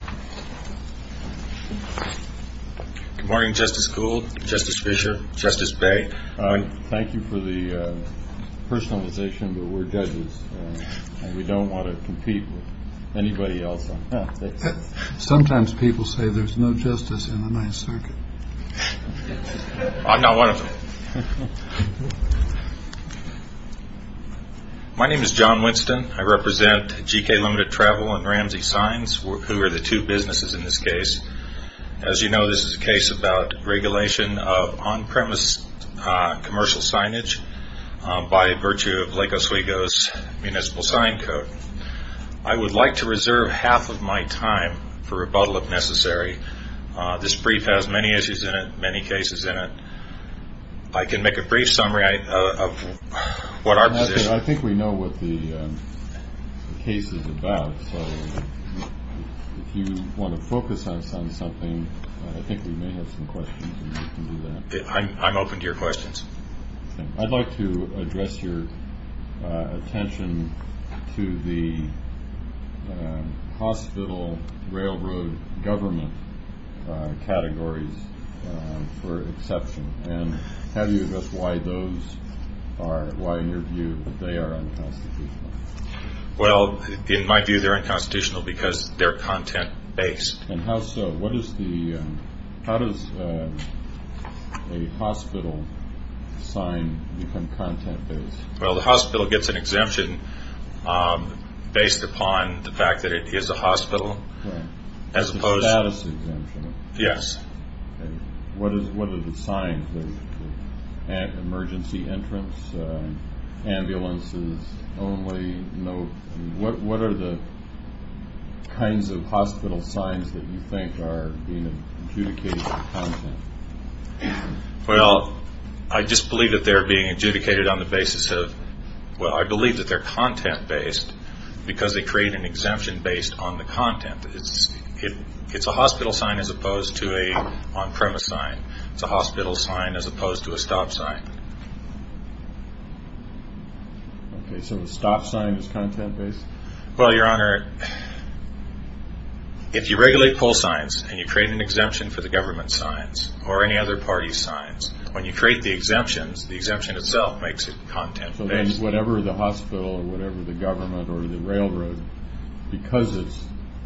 Good morning, Justice Gould, Justice Fischer, Justice Bay. Thank you for the personalization, but we are judges and we don't want to compete with anybody else. Sometimes people say there's no justice in the Ninth Circuit. I'm not one of them. My name is John Winston. I represent GK Ltd. Travel and Ramsey Signs, who are the two businesses in this case. As you know, this is a case about regulation of on-premise commercial signage by virtue of Lake Oswego's municipal sign code. I would like to reserve half of my time for rebuttal, if necessary. This brief has many issues in it, many cases in it. I can make a brief summary of what our position is. I think we know what the case is about, so if you want to focus on something, I think we may have some questions. I'm open to your questions. I'd like to address your attention to the hospital railroad government categories for exception, and have you addressed why in your view they are unconstitutional? Well, in my view they're unconstitutional because they're content-based. And how so? How does a hospital sign become content-based? Well, the hospital gets an exemption based upon the fact that it is a hospital. As opposed to status exemption. Yes. What are the signs? Emergency entrance? Ambulances only? What are the kinds of hospital signs that you think are being adjudicated for content? Well, I just believe that they're being adjudicated on the basis of, well, I believe that they're content-based because they create an exemption based on the content. It's a hospital sign as opposed to an on-premise sign. It's a hospital sign as opposed to a stop sign. Okay, so a stop sign is content-based? Well, Your Honor, if you regulate pull signs and you create an exemption for the government signs or any other party's signs, when you create the exemptions, the exemption itself makes it content-based. So then whatever the hospital or whatever the government or the railroad, because it's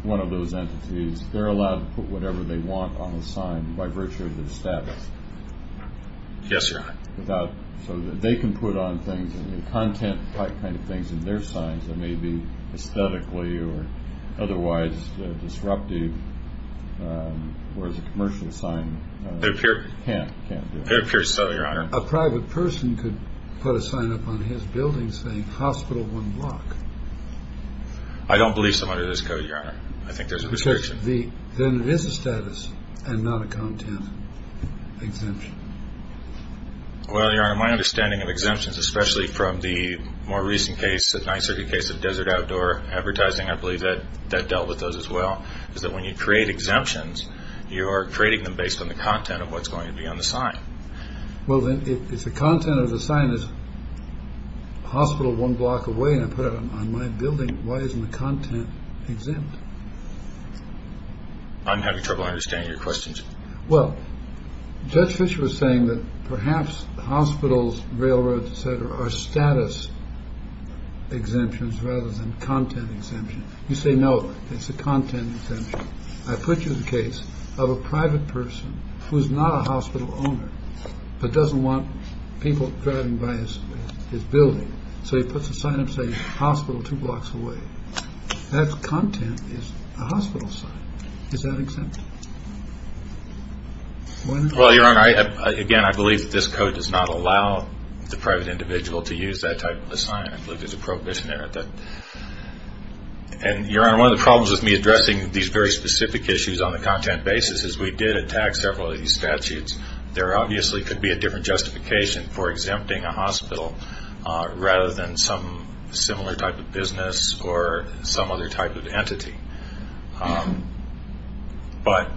one of those entities, they're allowed to put whatever they want on the sign by virtue of the status? Yes, Your Honor. So that they can put on things, content-type kind of things in their signs that may be aesthetically or otherwise disruptive, whereas a commercial sign can't do it? It appears so, Your Honor. A private person could put a sign up on his building saying hospital one block. I don't believe so under this code, Your Honor. I think there's a restriction. Then it is a status and not a content exemption. Well, Your Honor, my understanding of exemptions, especially from the more recent case, the 9th Circuit case of desert outdoor advertising, I believe that dealt with those as well, is that when you create exemptions, you are creating them based on the content of what's going to be on the sign. Well, then if the content of the sign is hospital one block away and I put it on my building, why isn't the content exempt? I'm having trouble understanding your questions. Well, Judge Fischer was saying that perhaps hospitals, railroads, et cetera, are status exemptions rather than content exemptions. You say no, it's a content exemption. I put you in the case of a private person who is not a hospital owner but doesn't want people driving by his building. So he puts a sign up saying hospital two blocks away. That content is a hospital sign. Is that exempt? Well, Your Honor, again, I believe that this code does not allow the private individual to use that type of sign. I believe there's a prohibition there. And, Your Honor, one of the problems with me addressing these very specific issues on the content basis is we did attack several of these statutes. There obviously could be a different justification for exempting a hospital rather than some similar type of business or some other type of entity. But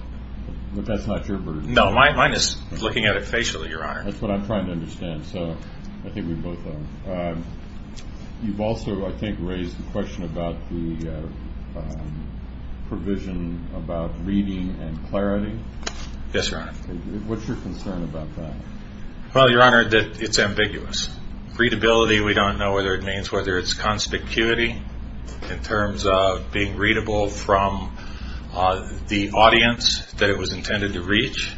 that's not your burden. No, mine is looking at it facially, Your Honor. That's what I'm trying to understand. So I think we both are. You've also, I think, raised the question about the provision about reading and clarity. Yes, Your Honor. What's your concern about that? Well, Your Honor, it's ambiguous. Readability, we don't know whether it means whether it's conspicuity in terms of being readable from the audience that it was intended to reach,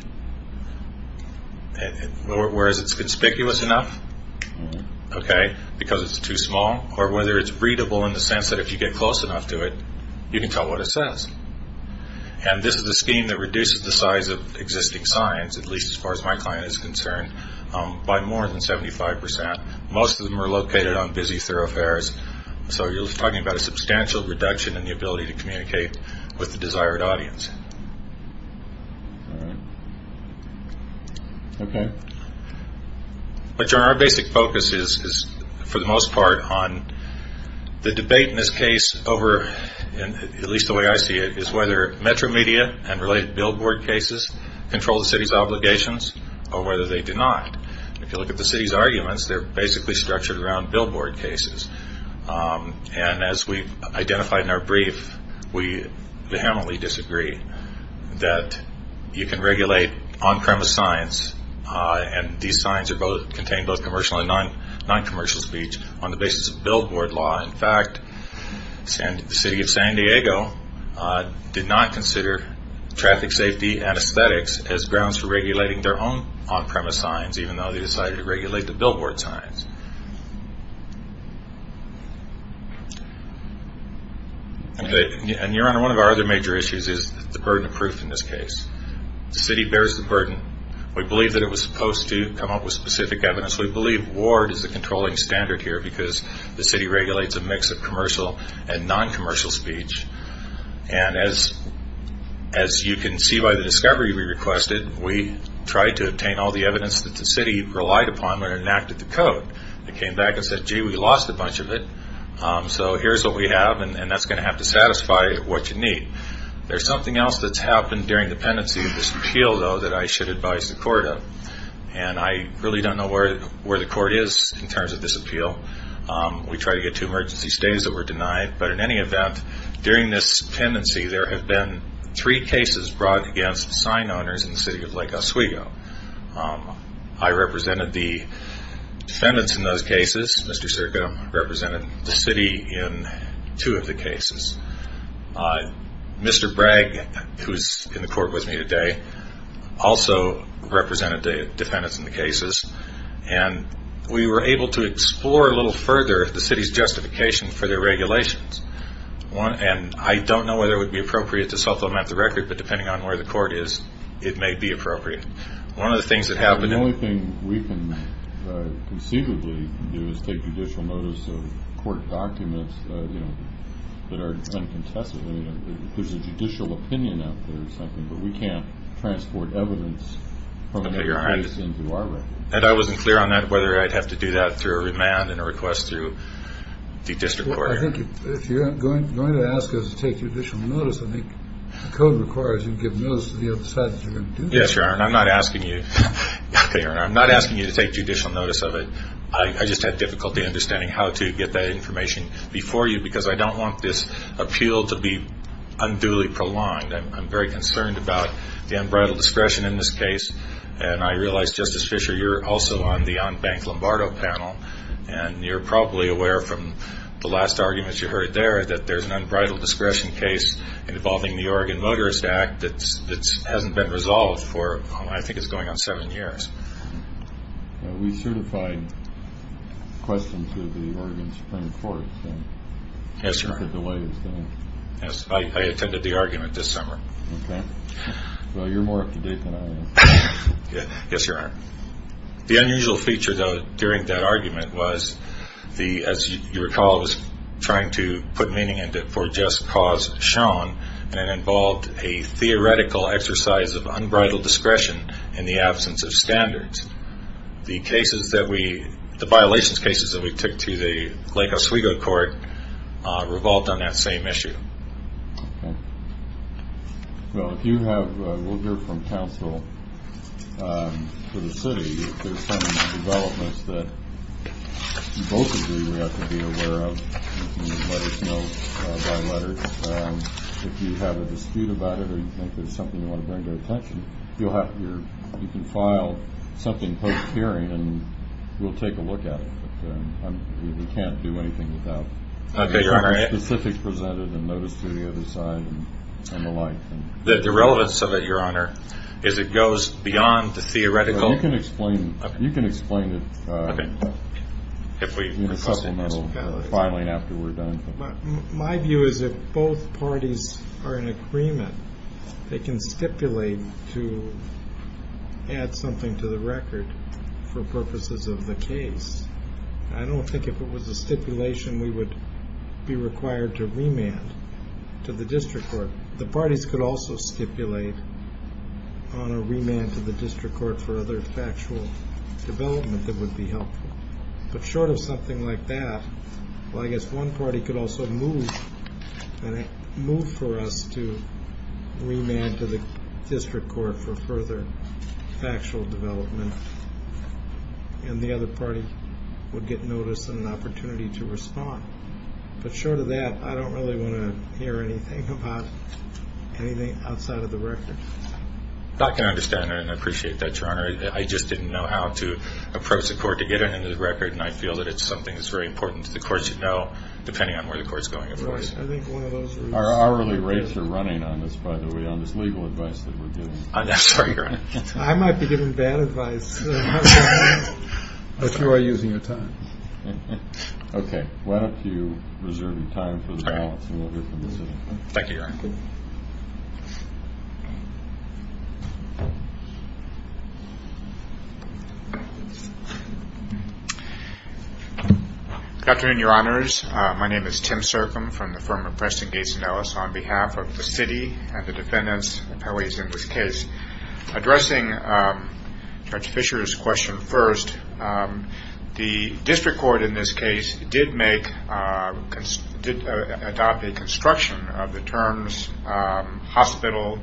whereas it's conspicuous enough because it's too small, or whether it's readable in the sense that if you get close enough to it, you can tell what it says. And this is a scheme that reduces the size of existing signs, at least as far as my client is concerned, by more than 75%. Most of them are located on busy thoroughfares. So you're talking about a substantial reduction in the ability to communicate with the desired audience. All right. Okay. But, Your Honor, our basic focus is, for the most part, on the debate in this case over, at least the way I see it, is whether metro media and related billboard cases control the city's obligations or whether they do not. If you look at the city's arguments, they're basically structured around billboard cases. And as we've identified in our brief, we vehemently disagree that you can regulate on-premise signs, and these signs contain both commercial and non-commercial speech on the basis of billboard law. In fact, the city of San Diego did not consider traffic safety anesthetics as grounds for regulating their own on-premise signs, even though they decided to regulate the billboard signs. And, Your Honor, one of our other major issues is the burden of proof in this case. The city bears the burden. We believe that it was supposed to come up with specific evidence. We believe Ward is the controlling standard here because the city regulates a mix of commercial and non-commercial speech. And as you can see by the discovery we requested, we tried to obtain all the evidence that the city relied upon when it enacted the code. It came back and said, gee, we lost a bunch of it, so here's what we have, and that's going to have to satisfy what you need. There's something else that's happened during the pendency of this appeal, though, that I should advise the court of. And I really don't know where the court is in terms of this appeal. We tried to get two emergency stays that were denied. But in any event, during this pendency, there have been three cases brought against sign owners in the city of Lake Oswego. I represented the defendants in those cases. Mr. Sirko represented the city in two of the cases. Mr. Bragg, who is in the court with me today, also represented the defendants in the cases. And we were able to explore a little further the city's justification for their regulations. And I don't know whether it would be appropriate to supplement the record, but depending on where the court is, it may be appropriate. One of the things that happened in- The only thing we can conceivably do is take judicial notice of court documents that are uncontested. I mean, there's a judicial opinion out there or something, but we can't transport evidence from another place into our record. And I wasn't clear on that, whether I'd have to do that through a remand and a request through the district court. Well, I think if you're going to ask us to take judicial notice, I think the code requires you give notice to the other side that you're going to do that. Yes, Your Honor, and I'm not asking you to take judicial notice of it. I just had difficulty understanding how to get that information before you because I don't want this appeal to be unduly prolonged. I'm very concerned about the unbridled discretion in this case. And I realize, Justice Fischer, you're also on the on-bank Lombardo panel, and you're probably aware from the last arguments you heard there that there's an unbridled discretion case involving the Oregon Motorist Act that hasn't been resolved for, I think it's going on seven years. We certified questions to the Oregon Supreme Court. Yes, Your Honor. I attended the argument this summer. Okay. Well, you're more up to date than I am. Yes, Your Honor. The unusual feature, though, during that argument was, as you recall, it was trying to put meaning into it for just cause shown, and it involved a theoretical exercise of unbridled discretion in the absence of standards. The violations cases that we took to the Lake Oswego court revolved on that same issue. Okay. Well, we'll hear from counsel for the city. There's some developments that both of you have to be aware of. You can let us know by letter. If you have a dispute about it or you think there's something you want to bring to attention, you can file something post-hearing, and we'll take a look at it. We can't do anything without specifics presented and notice to the other side and the like. The relevance of it, Your Honor, is it goes beyond the theoretical. You can explain it in a supplemental filing after we're done. My view is if both parties are in agreement, they can stipulate to add something to the record for purposes of the case. I don't think if it was a stipulation we would be required to remand to the district court. The parties could also stipulate on a remand to the district court for other factual development that would be helpful. But short of something like that, well, I guess one party could also move for us to remand to the district court for further factual development, and the other party would get notice and an opportunity to respond. But short of that, I don't really want to hear anything about anything outside of the record. I can understand that and appreciate that, Your Honor. I just didn't know how to approach the court to get it into the record, and I feel that it's something that's very important to the courts to know, depending on where the court is going, of course. Our hourly rates are running on this, by the way, on this legal advice that we're giving. I'm sorry, Your Honor. I might be giving bad advice, but you are using your time. Okay. Why don't you reserve your time for the balance and we'll hear from the city. Thank you, Your Honor. Thank you. Good afternoon, Your Honors. My name is Tim Sercom from the firm of Preston, Gates & Ellis, on behalf of the city and the defendants in this case. Addressing Judge Fisher's question first, the district court in this case did adopt a construction of the terms hospital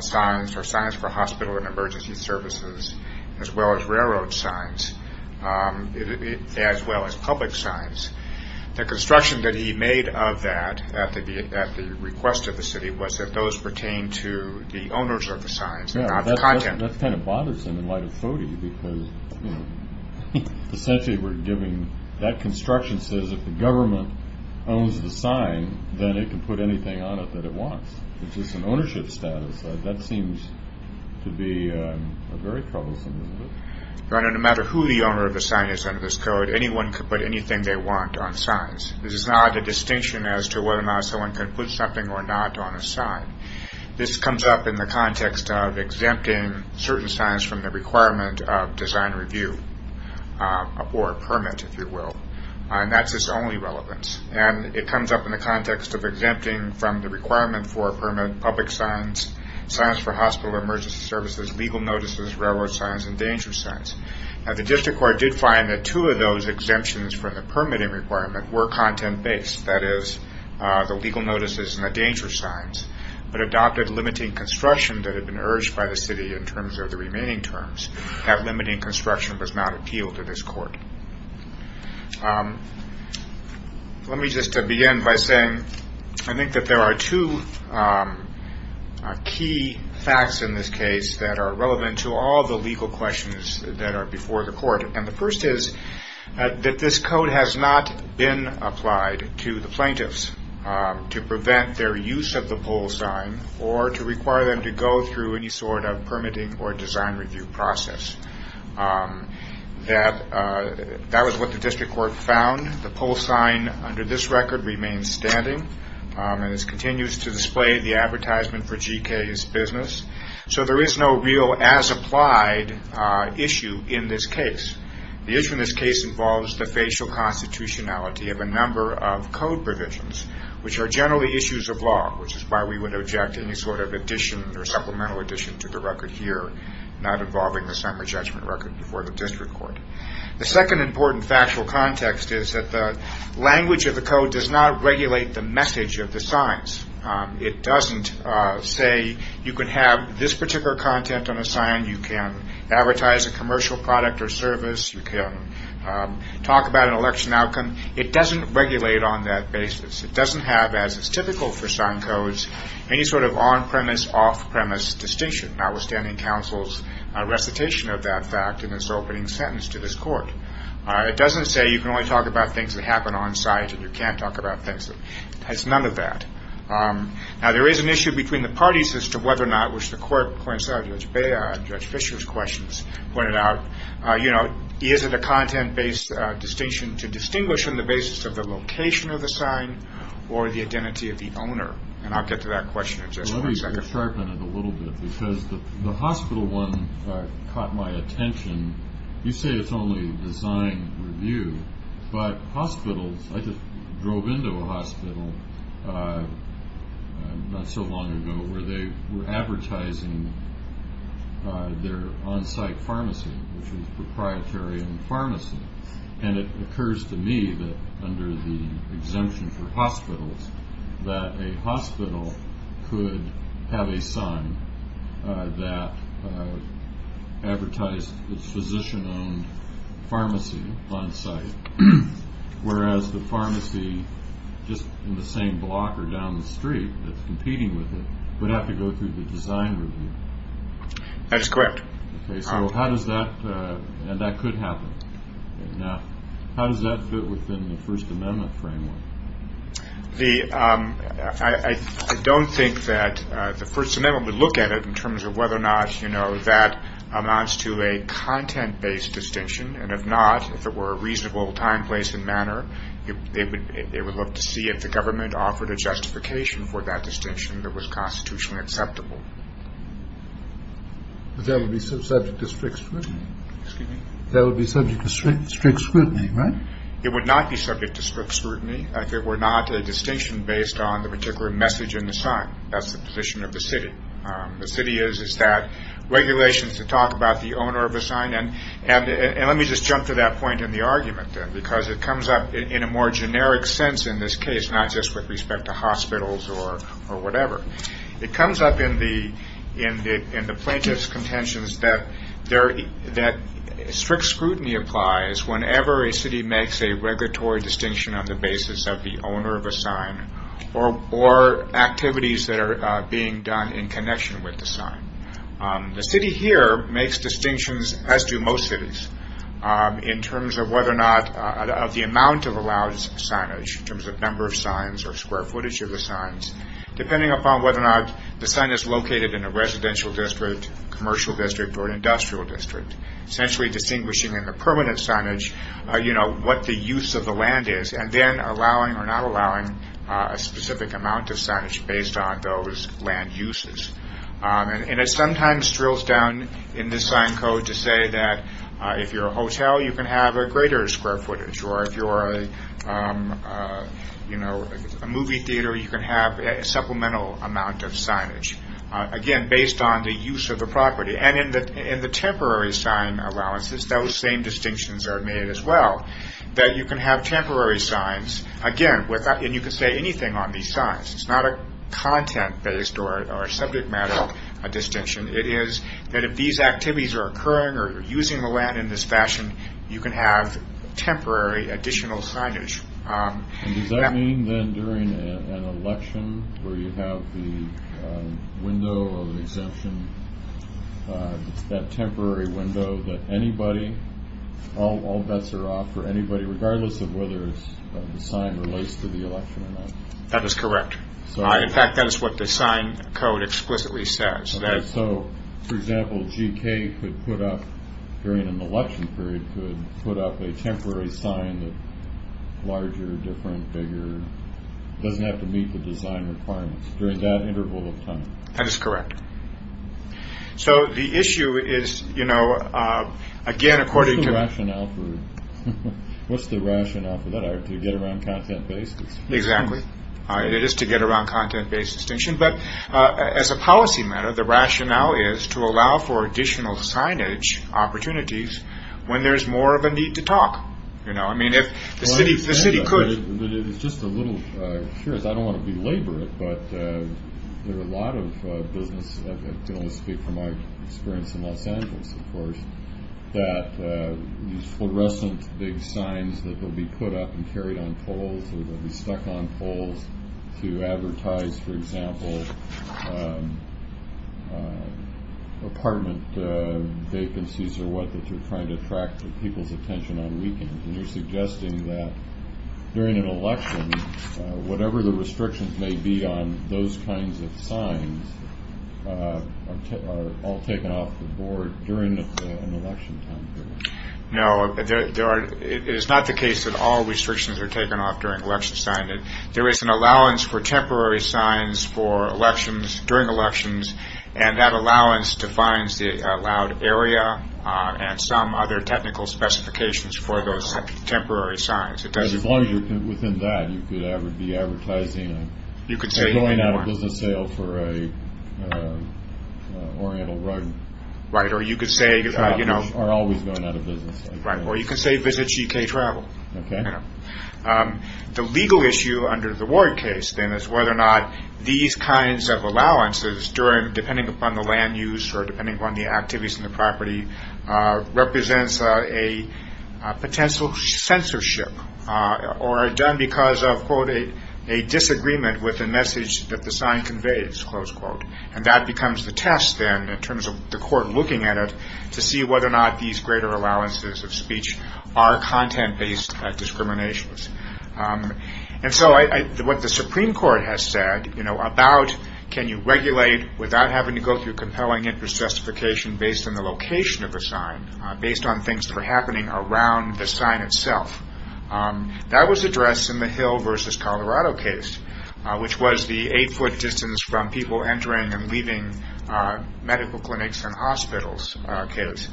signs or signs for hospital and emergency services, as well as railroad signs, as well as public signs. The construction that he made of that at the request of the city was that those pertain to the owners of the signs, not the content. That's kind of bothersome in light of FODI, because, you know, essentially we're giving that construction says if the government owns the sign, then it can put anything on it that it wants. It's just an ownership status. That seems to be very troublesome. Your Honor, no matter who the owner of the sign is under this code, anyone can put anything they want on signs. This is not a distinction as to whether or not someone can put something or not on a sign. This comes up in the context of exempting certain signs from the requirement of design review, or a permit, if you will. And that's its only relevance. And it comes up in the context of exempting from the requirement for a permit public signs, signs for hospital and emergency services, legal notices, railroad signs, and danger signs. The district court did find that two of those exemptions from the permitting requirement were content-based, that is the legal notices and the danger signs, but adopted limiting construction that had been urged by the city in terms of the remaining terms. That limiting construction does not appeal to this court. Let me just begin by saying I think that there are two key facts in this case that are relevant to all the legal questions that are before the court. And the first is that this code has not been applied to the plaintiffs to prevent their use of the pull sign or to require them to go through any sort of permitting or design review process. That was what the district court found. The pull sign under this record remains standing and continues to display the advertisement for GK's business. So there is no real as-applied issue in this case. The issue in this case involves the facial constitutionality of a number of code provisions, which are generally issues of law, which is why we would object to any sort of addition or supplemental addition to the record here, not involving the summary judgment record before the district court. The second important factual context is that the language of the code does not regulate the message of the signs. It doesn't say you can have this particular content on a sign. You can advertise a commercial product or service. You can talk about an election outcome. It doesn't regulate on that basis. It doesn't have, as is typical for sign codes, any sort of on-premise, off-premise distinction, notwithstanding counsel's recitation of that fact in its opening sentence to this court. It doesn't say you can only talk about things that happen on-site and you can't talk about things. It has none of that. Now, there is an issue between the parties as to whether or not, which the court coincided with Judge Beyer and Judge Fischer's questions pointed out, you know, is it a content-based distinction to distinguish on the basis of the location of the sign or the identity of the owner? And I'll get to that question in just one second. Let me sharpen it a little bit because the hospital one caught my attention. You say it's only design review, but hospitals, I just drove into a hospital not so long ago where they were advertising their on-site pharmacy, which was a proprietary pharmacy. And it occurs to me that under the exemption for hospitals, that a hospital could have a sign that advertised its physician-owned pharmacy on-site, whereas the pharmacy just in the same block or down the street that's competing with it would have to go through the design review. That's correct. Okay, so how does that – and that could happen. How does that fit within the First Amendment framework? I don't think that the First Amendment would look at it in terms of whether or not, you know, that amounts to a content-based distinction. And if not, if it were a reasonable time, place, and manner, it would look to see if the government offered a justification for that distinction that was constitutionally acceptable. But that would be subject to strict scrutiny. Excuse me? That would be subject to strict scrutiny, right? It would not be subject to strict scrutiny if it were not a distinction based on the particular message in the sign. That's the position of the city. The city is that regulation is to talk about the owner of the sign. And let me just jump to that point in the argument, then, because it comes up in a more generic sense in this case, not just with respect to hospitals or whatever. It comes up in the plaintiff's contentions that strict scrutiny applies whenever a city makes a regulatory distinction on the basis of the owner of a sign or activities that are being done in connection with the sign. The city here makes distinctions, as do most cities, in terms of whether or not the amount of allowed signage, in terms of number of signs or square footage of the signs, depending upon whether or not the sign is located in a residential district, commercial district, or industrial district, essentially distinguishing in the permanent signage what the use of the land is and then allowing or not allowing a specific amount of signage based on those land uses. And it sometimes drills down in the sign code to say that if you're a hotel, you can have a greater square footage, or if you're a movie theater, you can have a supplemental amount of signage, again, based on the use of the property. And in the temporary sign allowances, those same distinctions are made as well, that you can have temporary signs, again, and you can say anything on these signs. It's not a content-based or subject matter distinction. It is that if these activities are occurring or using the land in this fashion, you can have temporary additional signage. And does that mean, then, during an election, where you have the window of exemption, that temporary window, that anybody, all bets are off for anybody, regardless of whether the sign relates to the election or not? That is correct. In fact, that is what the sign code explicitly says. So, for example, GK could put up, during an election period, GK could put up a temporary sign that's larger, different, bigger. It doesn't have to meet the design requirements during that interval of time. That is correct. So, the issue is, you know, again, according to… What's the rationale for that? To get around content-based? Exactly. It is to get around content-based distinction. But, as a policy matter, the rationale is to allow for additional signage opportunities when there is more of a need to talk. You know, I mean, if the city could… It is just a little curious. I don't want to belabor it, but there are a lot of business… I can only speak from my experience in Los Angeles, of course, that these fluorescent big signs that will be put up and carried on poles or will be stuck on poles to advertise, for example, apartment vacancies or what, that you're trying to attract people's attention on weekends. And you're suggesting that, during an election, whatever the restrictions may be on those kinds of signs are all taken off the board during an election time period. No, it is not the case that all restrictions are taken off during election time. There is an allowance for temporary signs during elections, and that allowance defines the allowed area and some other technical specifications for those temporary signs. As long as you're within that, you could be advertising or going out of business sale for an Oriental rug. Right, or you could say… Or always going out of business. Right, or you could say visit GK Travel. Okay. The legal issue under the Ward case, then, is whether or not these kinds of allowances, depending upon the land use or depending upon the activities on the property, represents a potential censorship or are done because of, quote, a disagreement with the message that the sign conveys, close quote. And that becomes the test, then, in terms of the court looking at it to see whether or not these greater allowances of speech are content-based discriminations. And so what the Supreme Court has said, you know, about can you regulate without having to go through compelling interest justification based on the location of the sign, based on things that are happening around the sign itself, that was addressed in the Hill v. Colorado case, which was the eight-foot distance from people entering and leaving medical clinics and hospitals case.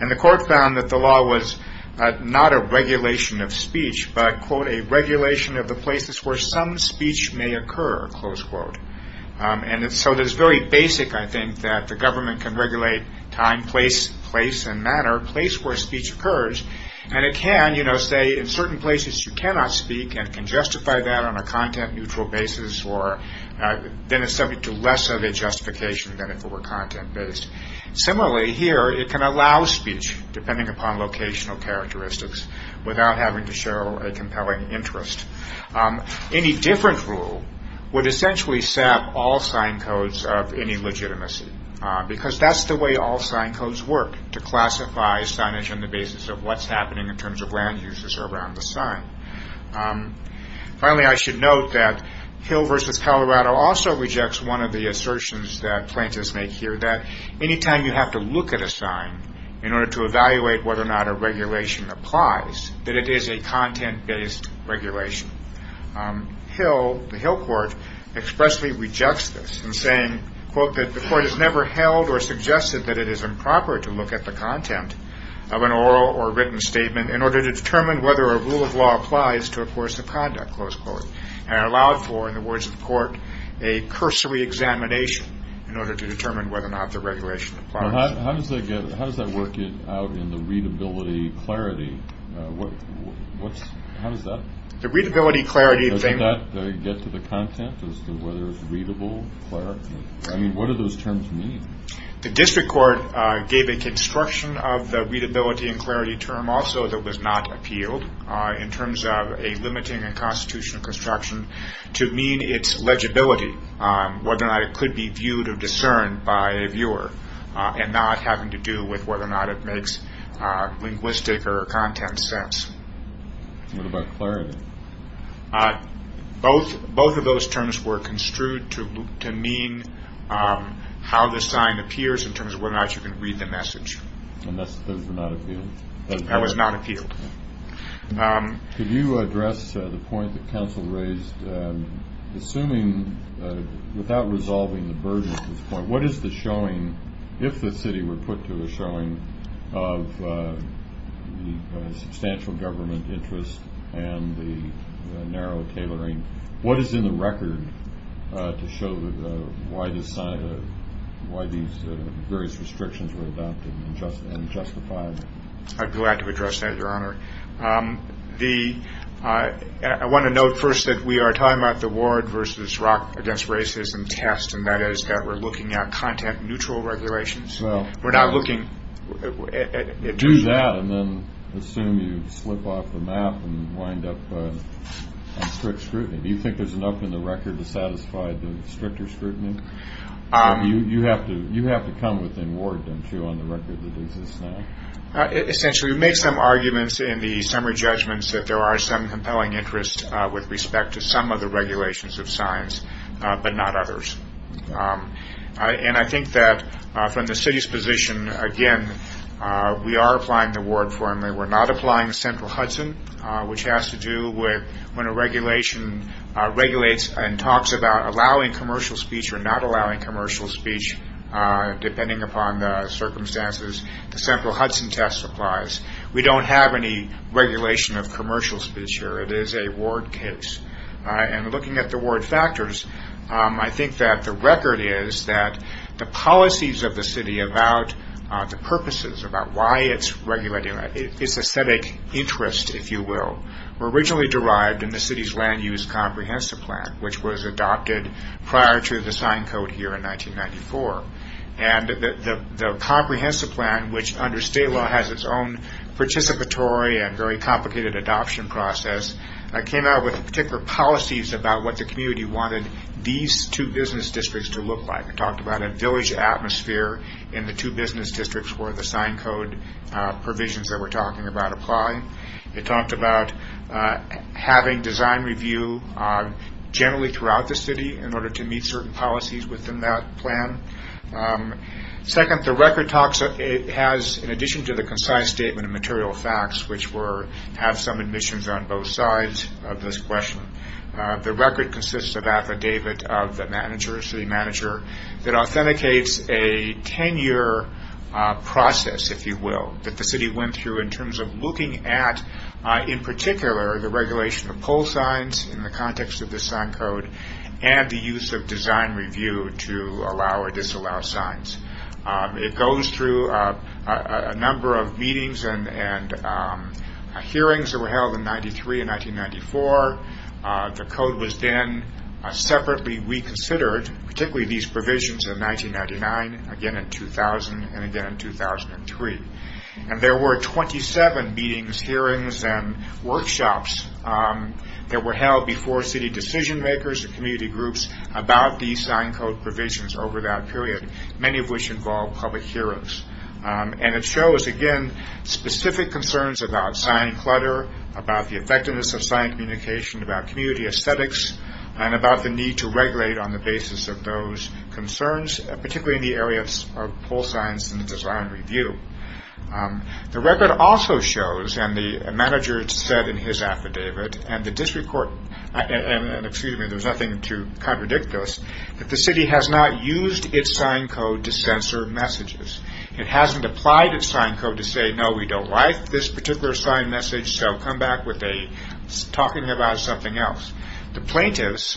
And the court found that the law was not a regulation of speech, but, quote, a regulation of the places where some speech may occur, close quote. And so it is very basic, I think, that the government can regulate time, place, place and matter, place where speech occurs. And it can, you know, say in certain places you cannot speak and can justify that on a content-neutral basis or then it's subject to less of a justification than if it were content-based. Similarly, here it can allow speech, depending upon locational characteristics, without having to show a compelling interest. Any different rule would essentially set up all sign codes of any legitimacy because that's the way all sign codes work, to classify signage on the basis of what's happening in terms of land uses around the sign. Finally, I should note that Hill v. Colorado also rejects one of the assertions that plaintiffs make here that any time you have to look at a sign in order to evaluate whether or not a regulation applies, that it is a content-based regulation. Hill, the Hill court, expressly rejects this in saying, quote, that the court has never held or suggested that it is improper to look at the content of an oral or written statement in order to determine whether a rule of law applies to a course of conduct, close quote, and allowed for, in the words of the court, a cursory examination in order to determine whether or not the regulation applies. How does that work out in the readability clarity? How does that get to the content as to whether it's readable, clear? I mean, what do those terms mean? The district court gave a construction of the readability and clarity term also that was not appealed in terms of a limiting and constitutional construction to mean its legibility, whether or not it could be viewed or discerned by a viewer and not having to do with whether or not it makes linguistic or content sense. What about clarity? Both of those terms were construed to mean how the sign appears in terms of whether or not you can read the message. And those were not appealed? That was not appealed. Could you address the point that counsel raised? Assuming without resolving the burden at this point, what is the showing, if the city were put to a showing of the substantial government interest and the narrow tailoring, what is in the record to show why these various restrictions were adopted and justified? I'd be glad to address that, Your Honor. I want to note first that we are talking about the Ward versus Rock against Racism test, and that is that we're looking at content-neutral regulations. We're not looking at... Do that and then assume you slip off the map and wind up on strict scrutiny. Do you think there's enough in the record to satisfy the stricter scrutiny? You have to come within Ward, don't you, on the record that exists now? Essentially, we've made some arguments in the summary judgments that there are some compelling interests with respect to some of the regulations of signs but not others. And I think that from the city's position, again, we are applying the Ward formula. We're not applying the central Hudson, which has to do with when a regulation regulates and talks about allowing commercial speech or not allowing commercial speech, depending upon the circumstances, the central Hudson test applies. We don't have any regulation of commercial speech here. It is a Ward case. And looking at the Ward factors, I think that the record is that the policies of the city about the purposes, about why it's regulating, its aesthetic interest, if you will, were originally derived in the city's land use comprehensive plan, which was adopted prior to the sign code here in 1994. And the comprehensive plan, which under state law has its own participatory and very complicated adoption process, came out with particular policies about what the community wanted these two business districts to look like. It talked about a village atmosphere in the two business districts where the sign code provisions that we're talking about apply. It talked about having design review generally throughout the city in order to meet certain policies within that plan. Second, the record has, in addition to the concise statement of material facts, which have some admissions on both sides of this question, the record consists of affidavit of the city manager that authenticates a 10-year process, if you will, that the city went through in terms of looking at, in particular, the regulation of poll signs in the context of the sign code and the use of design review to allow or disallow signs. It goes through a number of meetings and hearings that were held in 1993 and 1994. The code was then separately reconsidered, particularly these provisions in 1999, again in 2000, and again in 2003. There were 27 meetings, hearings, and workshops that were held before city decision makers and community groups about these sign code provisions over that period, many of which involved public hearings. It shows, again, specific concerns about sign clutter, about the effectiveness of sign communication, about community aesthetics, and about the need to regulate on the basis of those concerns, particularly in the area of poll signs and design review. The record also shows, and the manager said in his affidavit, and there's nothing to contradict this, that the city has not used its sign code to censor messages. It hasn't applied its sign code to say, no, we don't like this particular sign message, so come back with a talking about something else. The plaintiffs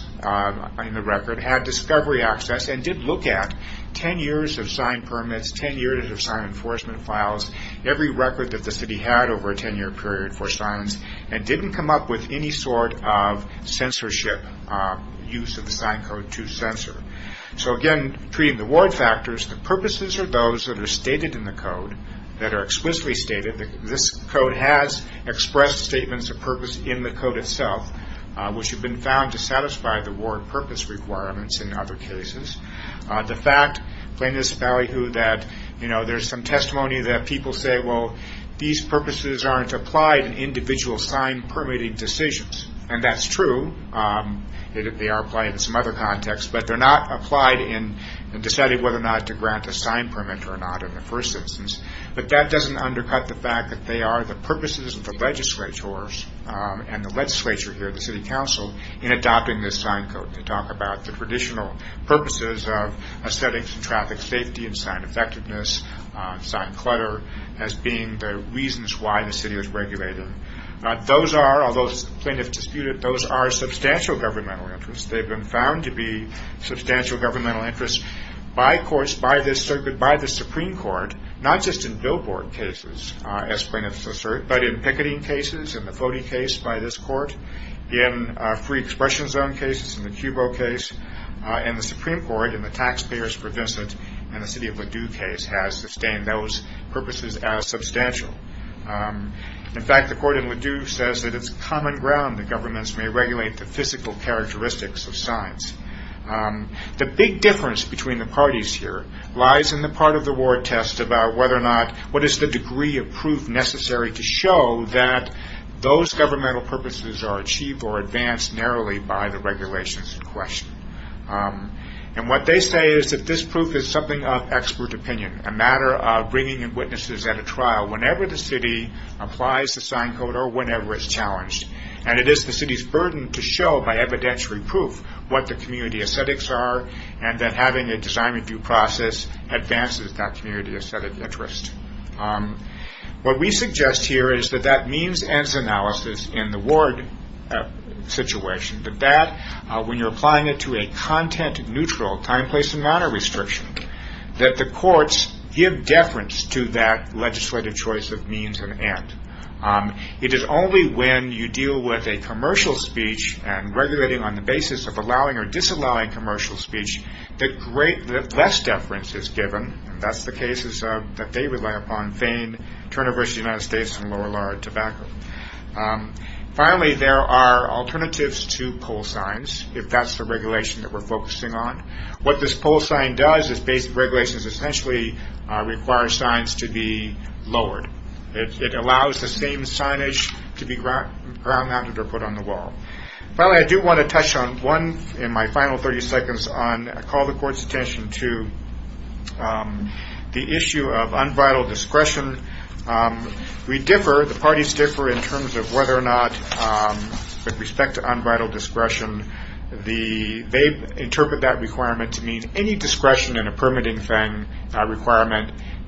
in the record had discovery access and did look at 10 years of sign permits, 10 years of sign enforcement files, every record that the city had over a 10-year period for signs, and didn't come up with any sort of censorship use of the sign code to censor. Again, treating the ward factors, the purposes are those that are stated in the code, that are explicitly stated. This code has expressed statements of purpose in the code itself, which have been found to satisfy the ward purpose requirements in other cases. The fact, plaintiffs value that there's some testimony that people say, well, these purposes aren't applied in individual sign permitting decisions, and that's true. They are applied in some other contexts, but they're not applied in deciding whether or not to grant a sign permit or not in the first instance. But that doesn't undercut the fact that they are the purposes of the legislators and the legislature here, the city council, in adopting this sign code. They talk about the traditional purposes of setting traffic safety and sign effectiveness, sign clutter as being the reasons why the city was regulated. Those are, although plaintiffs dispute it, those are substantial governmental interests. They've been found to be substantial governmental interests by courts, by the Supreme Court, not just in billboard cases, as plaintiffs assert, but in picketing cases, in the Vody case by this court, in free expression zone cases, in the Cubo case. And the Supreme Court, in the taxpayers for Vincent, and the city of Ladue case has sustained those purposes as substantial. In fact, the court in Ladue says that it's common ground that governments may regulate the physical characteristics of signs. The big difference between the parties here lies in the part of the ward test about whether or not, what is the degree of proof necessary to show that those governmental purposes are achieved or advanced narrowly by the regulations in question. And what they say is that this proof is something of expert opinion, a matter of bringing in witnesses at a trial whenever the city applies the sign code or whenever it's challenged. And it is the city's burden to show by evidentiary proof what the community aesthetics are and that having a design review process advances that community aesthetic interest. What we suggest here is that that means-ends analysis in the ward situation, that when you're applying it to a content-neutral time, place, and manner restriction, that the courts give deference to that legislative choice of means and end. It is only when you deal with a commercial speech and regulating on the basis of allowing or disallowing commercial speech that less deference is given. That's the cases that they rely upon, Fane, Turner versus the United States, and lower law of tobacco. Finally, there are alternatives to poll signs, if that's the regulation that we're focusing on. What this poll sign does is basic regulations essentially require signs to be lowered. It allows the same signage to be grounded or put on the wall. Finally, I do want to touch on one in my final 30 seconds on call the court's attention to the issue of unvital discretion. We differ, the parties differ, in terms of whether or not, with respect to unvital discretion, they interpret that requirement to mean any discretion in a permitting thing,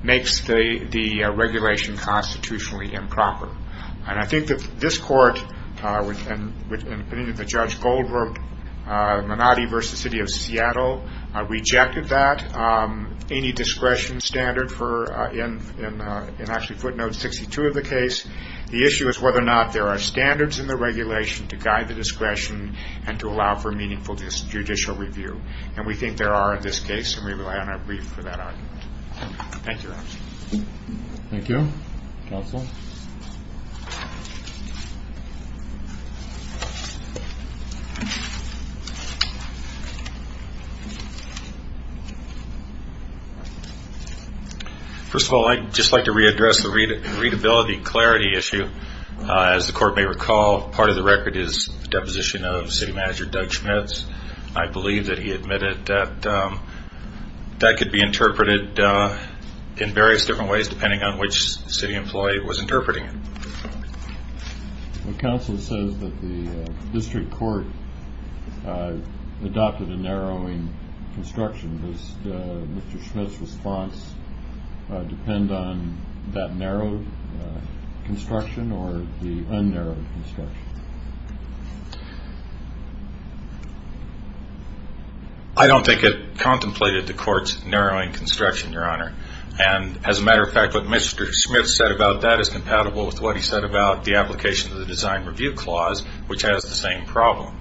makes the regulation constitutionally improper. I think that this court, and putting it to Judge Goldberg, Menotti versus the City of Seattle, rejected that. Any discretion standard for, in actually footnote 62 of the case, the issue is whether or not there are standards in the regulation to guide the discretion and to allow for meaningful judicial review. We think there are in this case, and we rely on our brief for that argument. Thank you very much. Thank you. Counsel? First of all, I'd just like to readdress the readability clarity issue. As the court may recall, part of the record is the deposition of City Manager Doug Schmitz. I believe that he admitted that that could be interpreted in various different ways, depending on which city employee was interpreting it. Counsel says that the district court adopted a narrowing construction. Does Mr. Schmitz's response depend on that narrowed construction or the un-narrowed construction? I don't think it contemplated the court's narrowing construction, Your Honor. And as a matter of fact, what Mr. Schmitz said about that is compatible with what he said about the application of the design review clause, which has the same problem.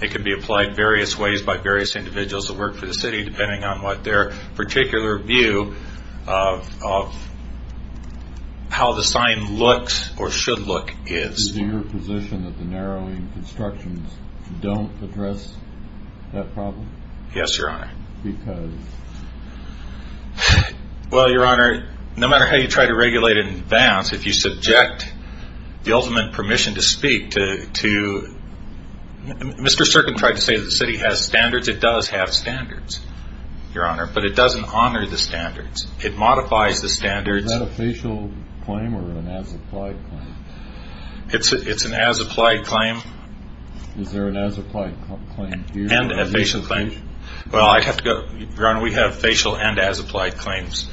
It can be applied various ways by various individuals that work for the city, depending on what their particular view of how the sign looks or should look is. Is it your position that the narrowing constructions don't address that problem? Yes, Your Honor. Because? Well, Your Honor, no matter how you try to regulate it in advance, if you subject the ultimate permission to speak to Mr. Serkin tried to say that the city has standards. It does have standards, Your Honor, but it doesn't honor the standards. It modifies the standards. Is that a facial claim or an as-applied claim? It's an as-applied claim. Is there an as-applied claim here? And a facial claim. Well, I'd have to go. Your Honor, we have facial and as-applied claims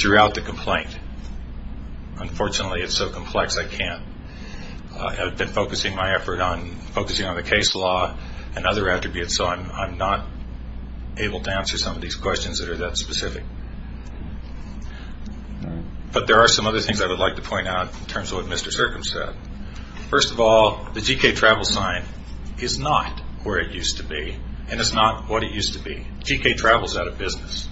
throughout the complaint. Unfortunately, it's so complex I can't. I've been focusing my effort on the case law and other attributes, so I'm not able to answer some of these questions that are that specific. But there are some other things I would like to point out in terms of what Mr. Serkin said. First of all, the G.K. Travels sign is not where it used to be, and it's not what it used to be. G.K. Travels is out of business.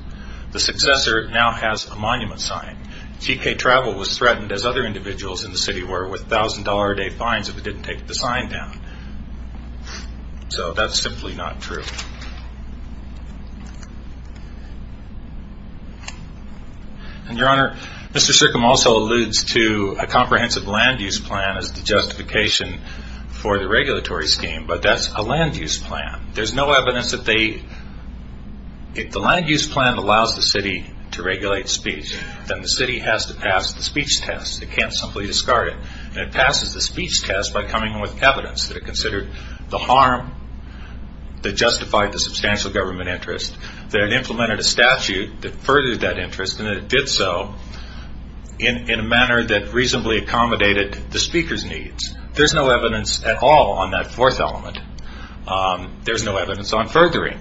The successor now has a monument sign. G.K. Travel was threatened, as other individuals in the city were, with $1,000-a-day fines if it didn't take the sign down. So that's simply not true. And, Your Honor, Mr. Serkin also alludes to a comprehensive land-use plan as the justification for the regulatory scheme, but that's a land-use plan. There's no evidence that they... If the land-use plan allows the city to regulate speech, then the city has to pass the speech test. It can't simply discard it. And it passes the speech test by coming with evidence that it considered the harm that justified the substantial government interest, that it implemented a statute that furthered that interest, and that it did so in a manner that reasonably accommodated the speaker's needs. There's no evidence at all on that fourth element. There's no evidence on furthering.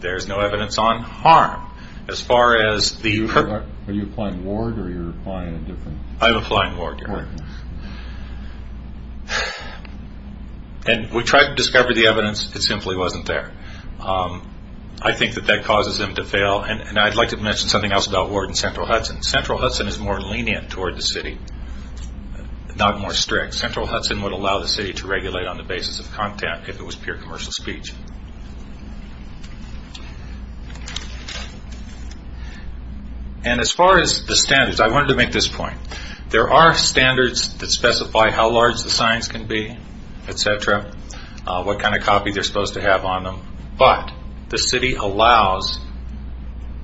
There's no evidence on harm. As far as the... Are you applying Ward or are you applying a different... I'm applying Ward, Your Honor. And we tried to discover the evidence. It simply wasn't there. I think that that causes them to fail. And I'd like to mention something else about Ward and Central Hudson. Central Hudson is more lenient toward the city, not more strict. Central Hudson would allow the city to regulate on the basis of content if it was pure commercial speech. And as far as the standards, I wanted to make this point. There are standards that specify how large the signs can be, et cetera, what kind of copy they're supposed to have on them, but the city allows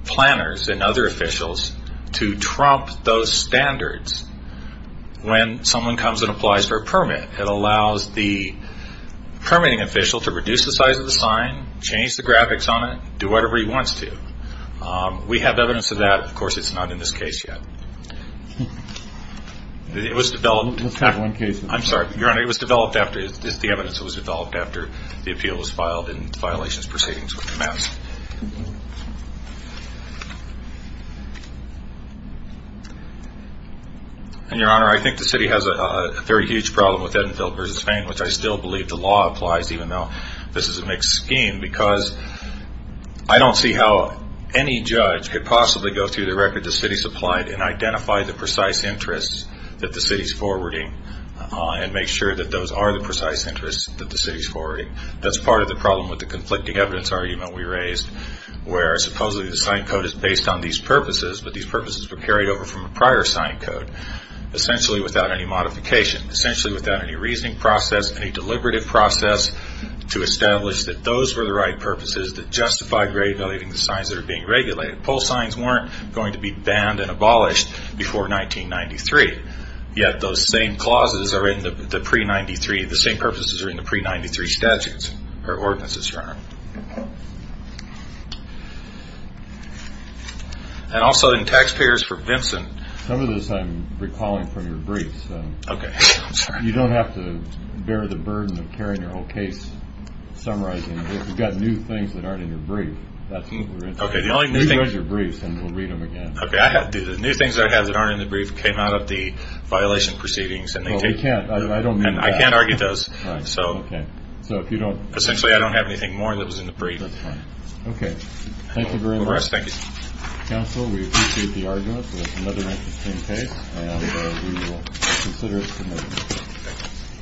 planners and other officials to trump those standards when someone comes and applies for a permit. It allows the permitting official to reduce the size of the sign, change the graphics on it, do whatever he wants to. We have evidence of that. Of course, it's not in this case yet. It was developed... It's not one case. I'm sorry, Your Honor. It's the evidence that was developed after the appeal was filed and violations proceedings were commenced. And, Your Honor, I think the city has a very huge problem with Edenfield v. Fane, which I still believe the law applies even though this is a mixed scheme because I don't see how any judge could possibly go through the record the city supplied and identify the precise interests that the city's forwarding and make sure that those are the precise interests that the city's forwarding. That's part of the problem with the conflicting evidence argument we raised where supposedly the sign code is based on these purposes, but these purposes were carried over from a prior sign code, essentially without any modification, essentially without any reasoning process, any deliberative process to establish that those were the right purposes that justify grade-valuing the signs that are being regulated. Pull signs weren't going to be banned and abolished before 1993, yet those same clauses are in the pre-93, the same purposes are in the pre-93 statutes or ordinances, Your Honor. And also in taxpayers for Vinson. Some of this I'm recalling from your briefs. Okay. You don't have to bear the burden of carrying your whole case, summarizing it. You've got new things that aren't in your brief. Okay. The only new thing is your briefs, and we'll read them again. Okay. The new things that I have that aren't in the brief came out of the violation proceedings. Well, they can't. I don't mean that. I can't argue those. So essentially I don't have anything more that was in the brief. That's fine. Okay. Thank you very much. Thank you. Counsel, we appreciate the argument, so that's another interesting case, and we will consider it submitted.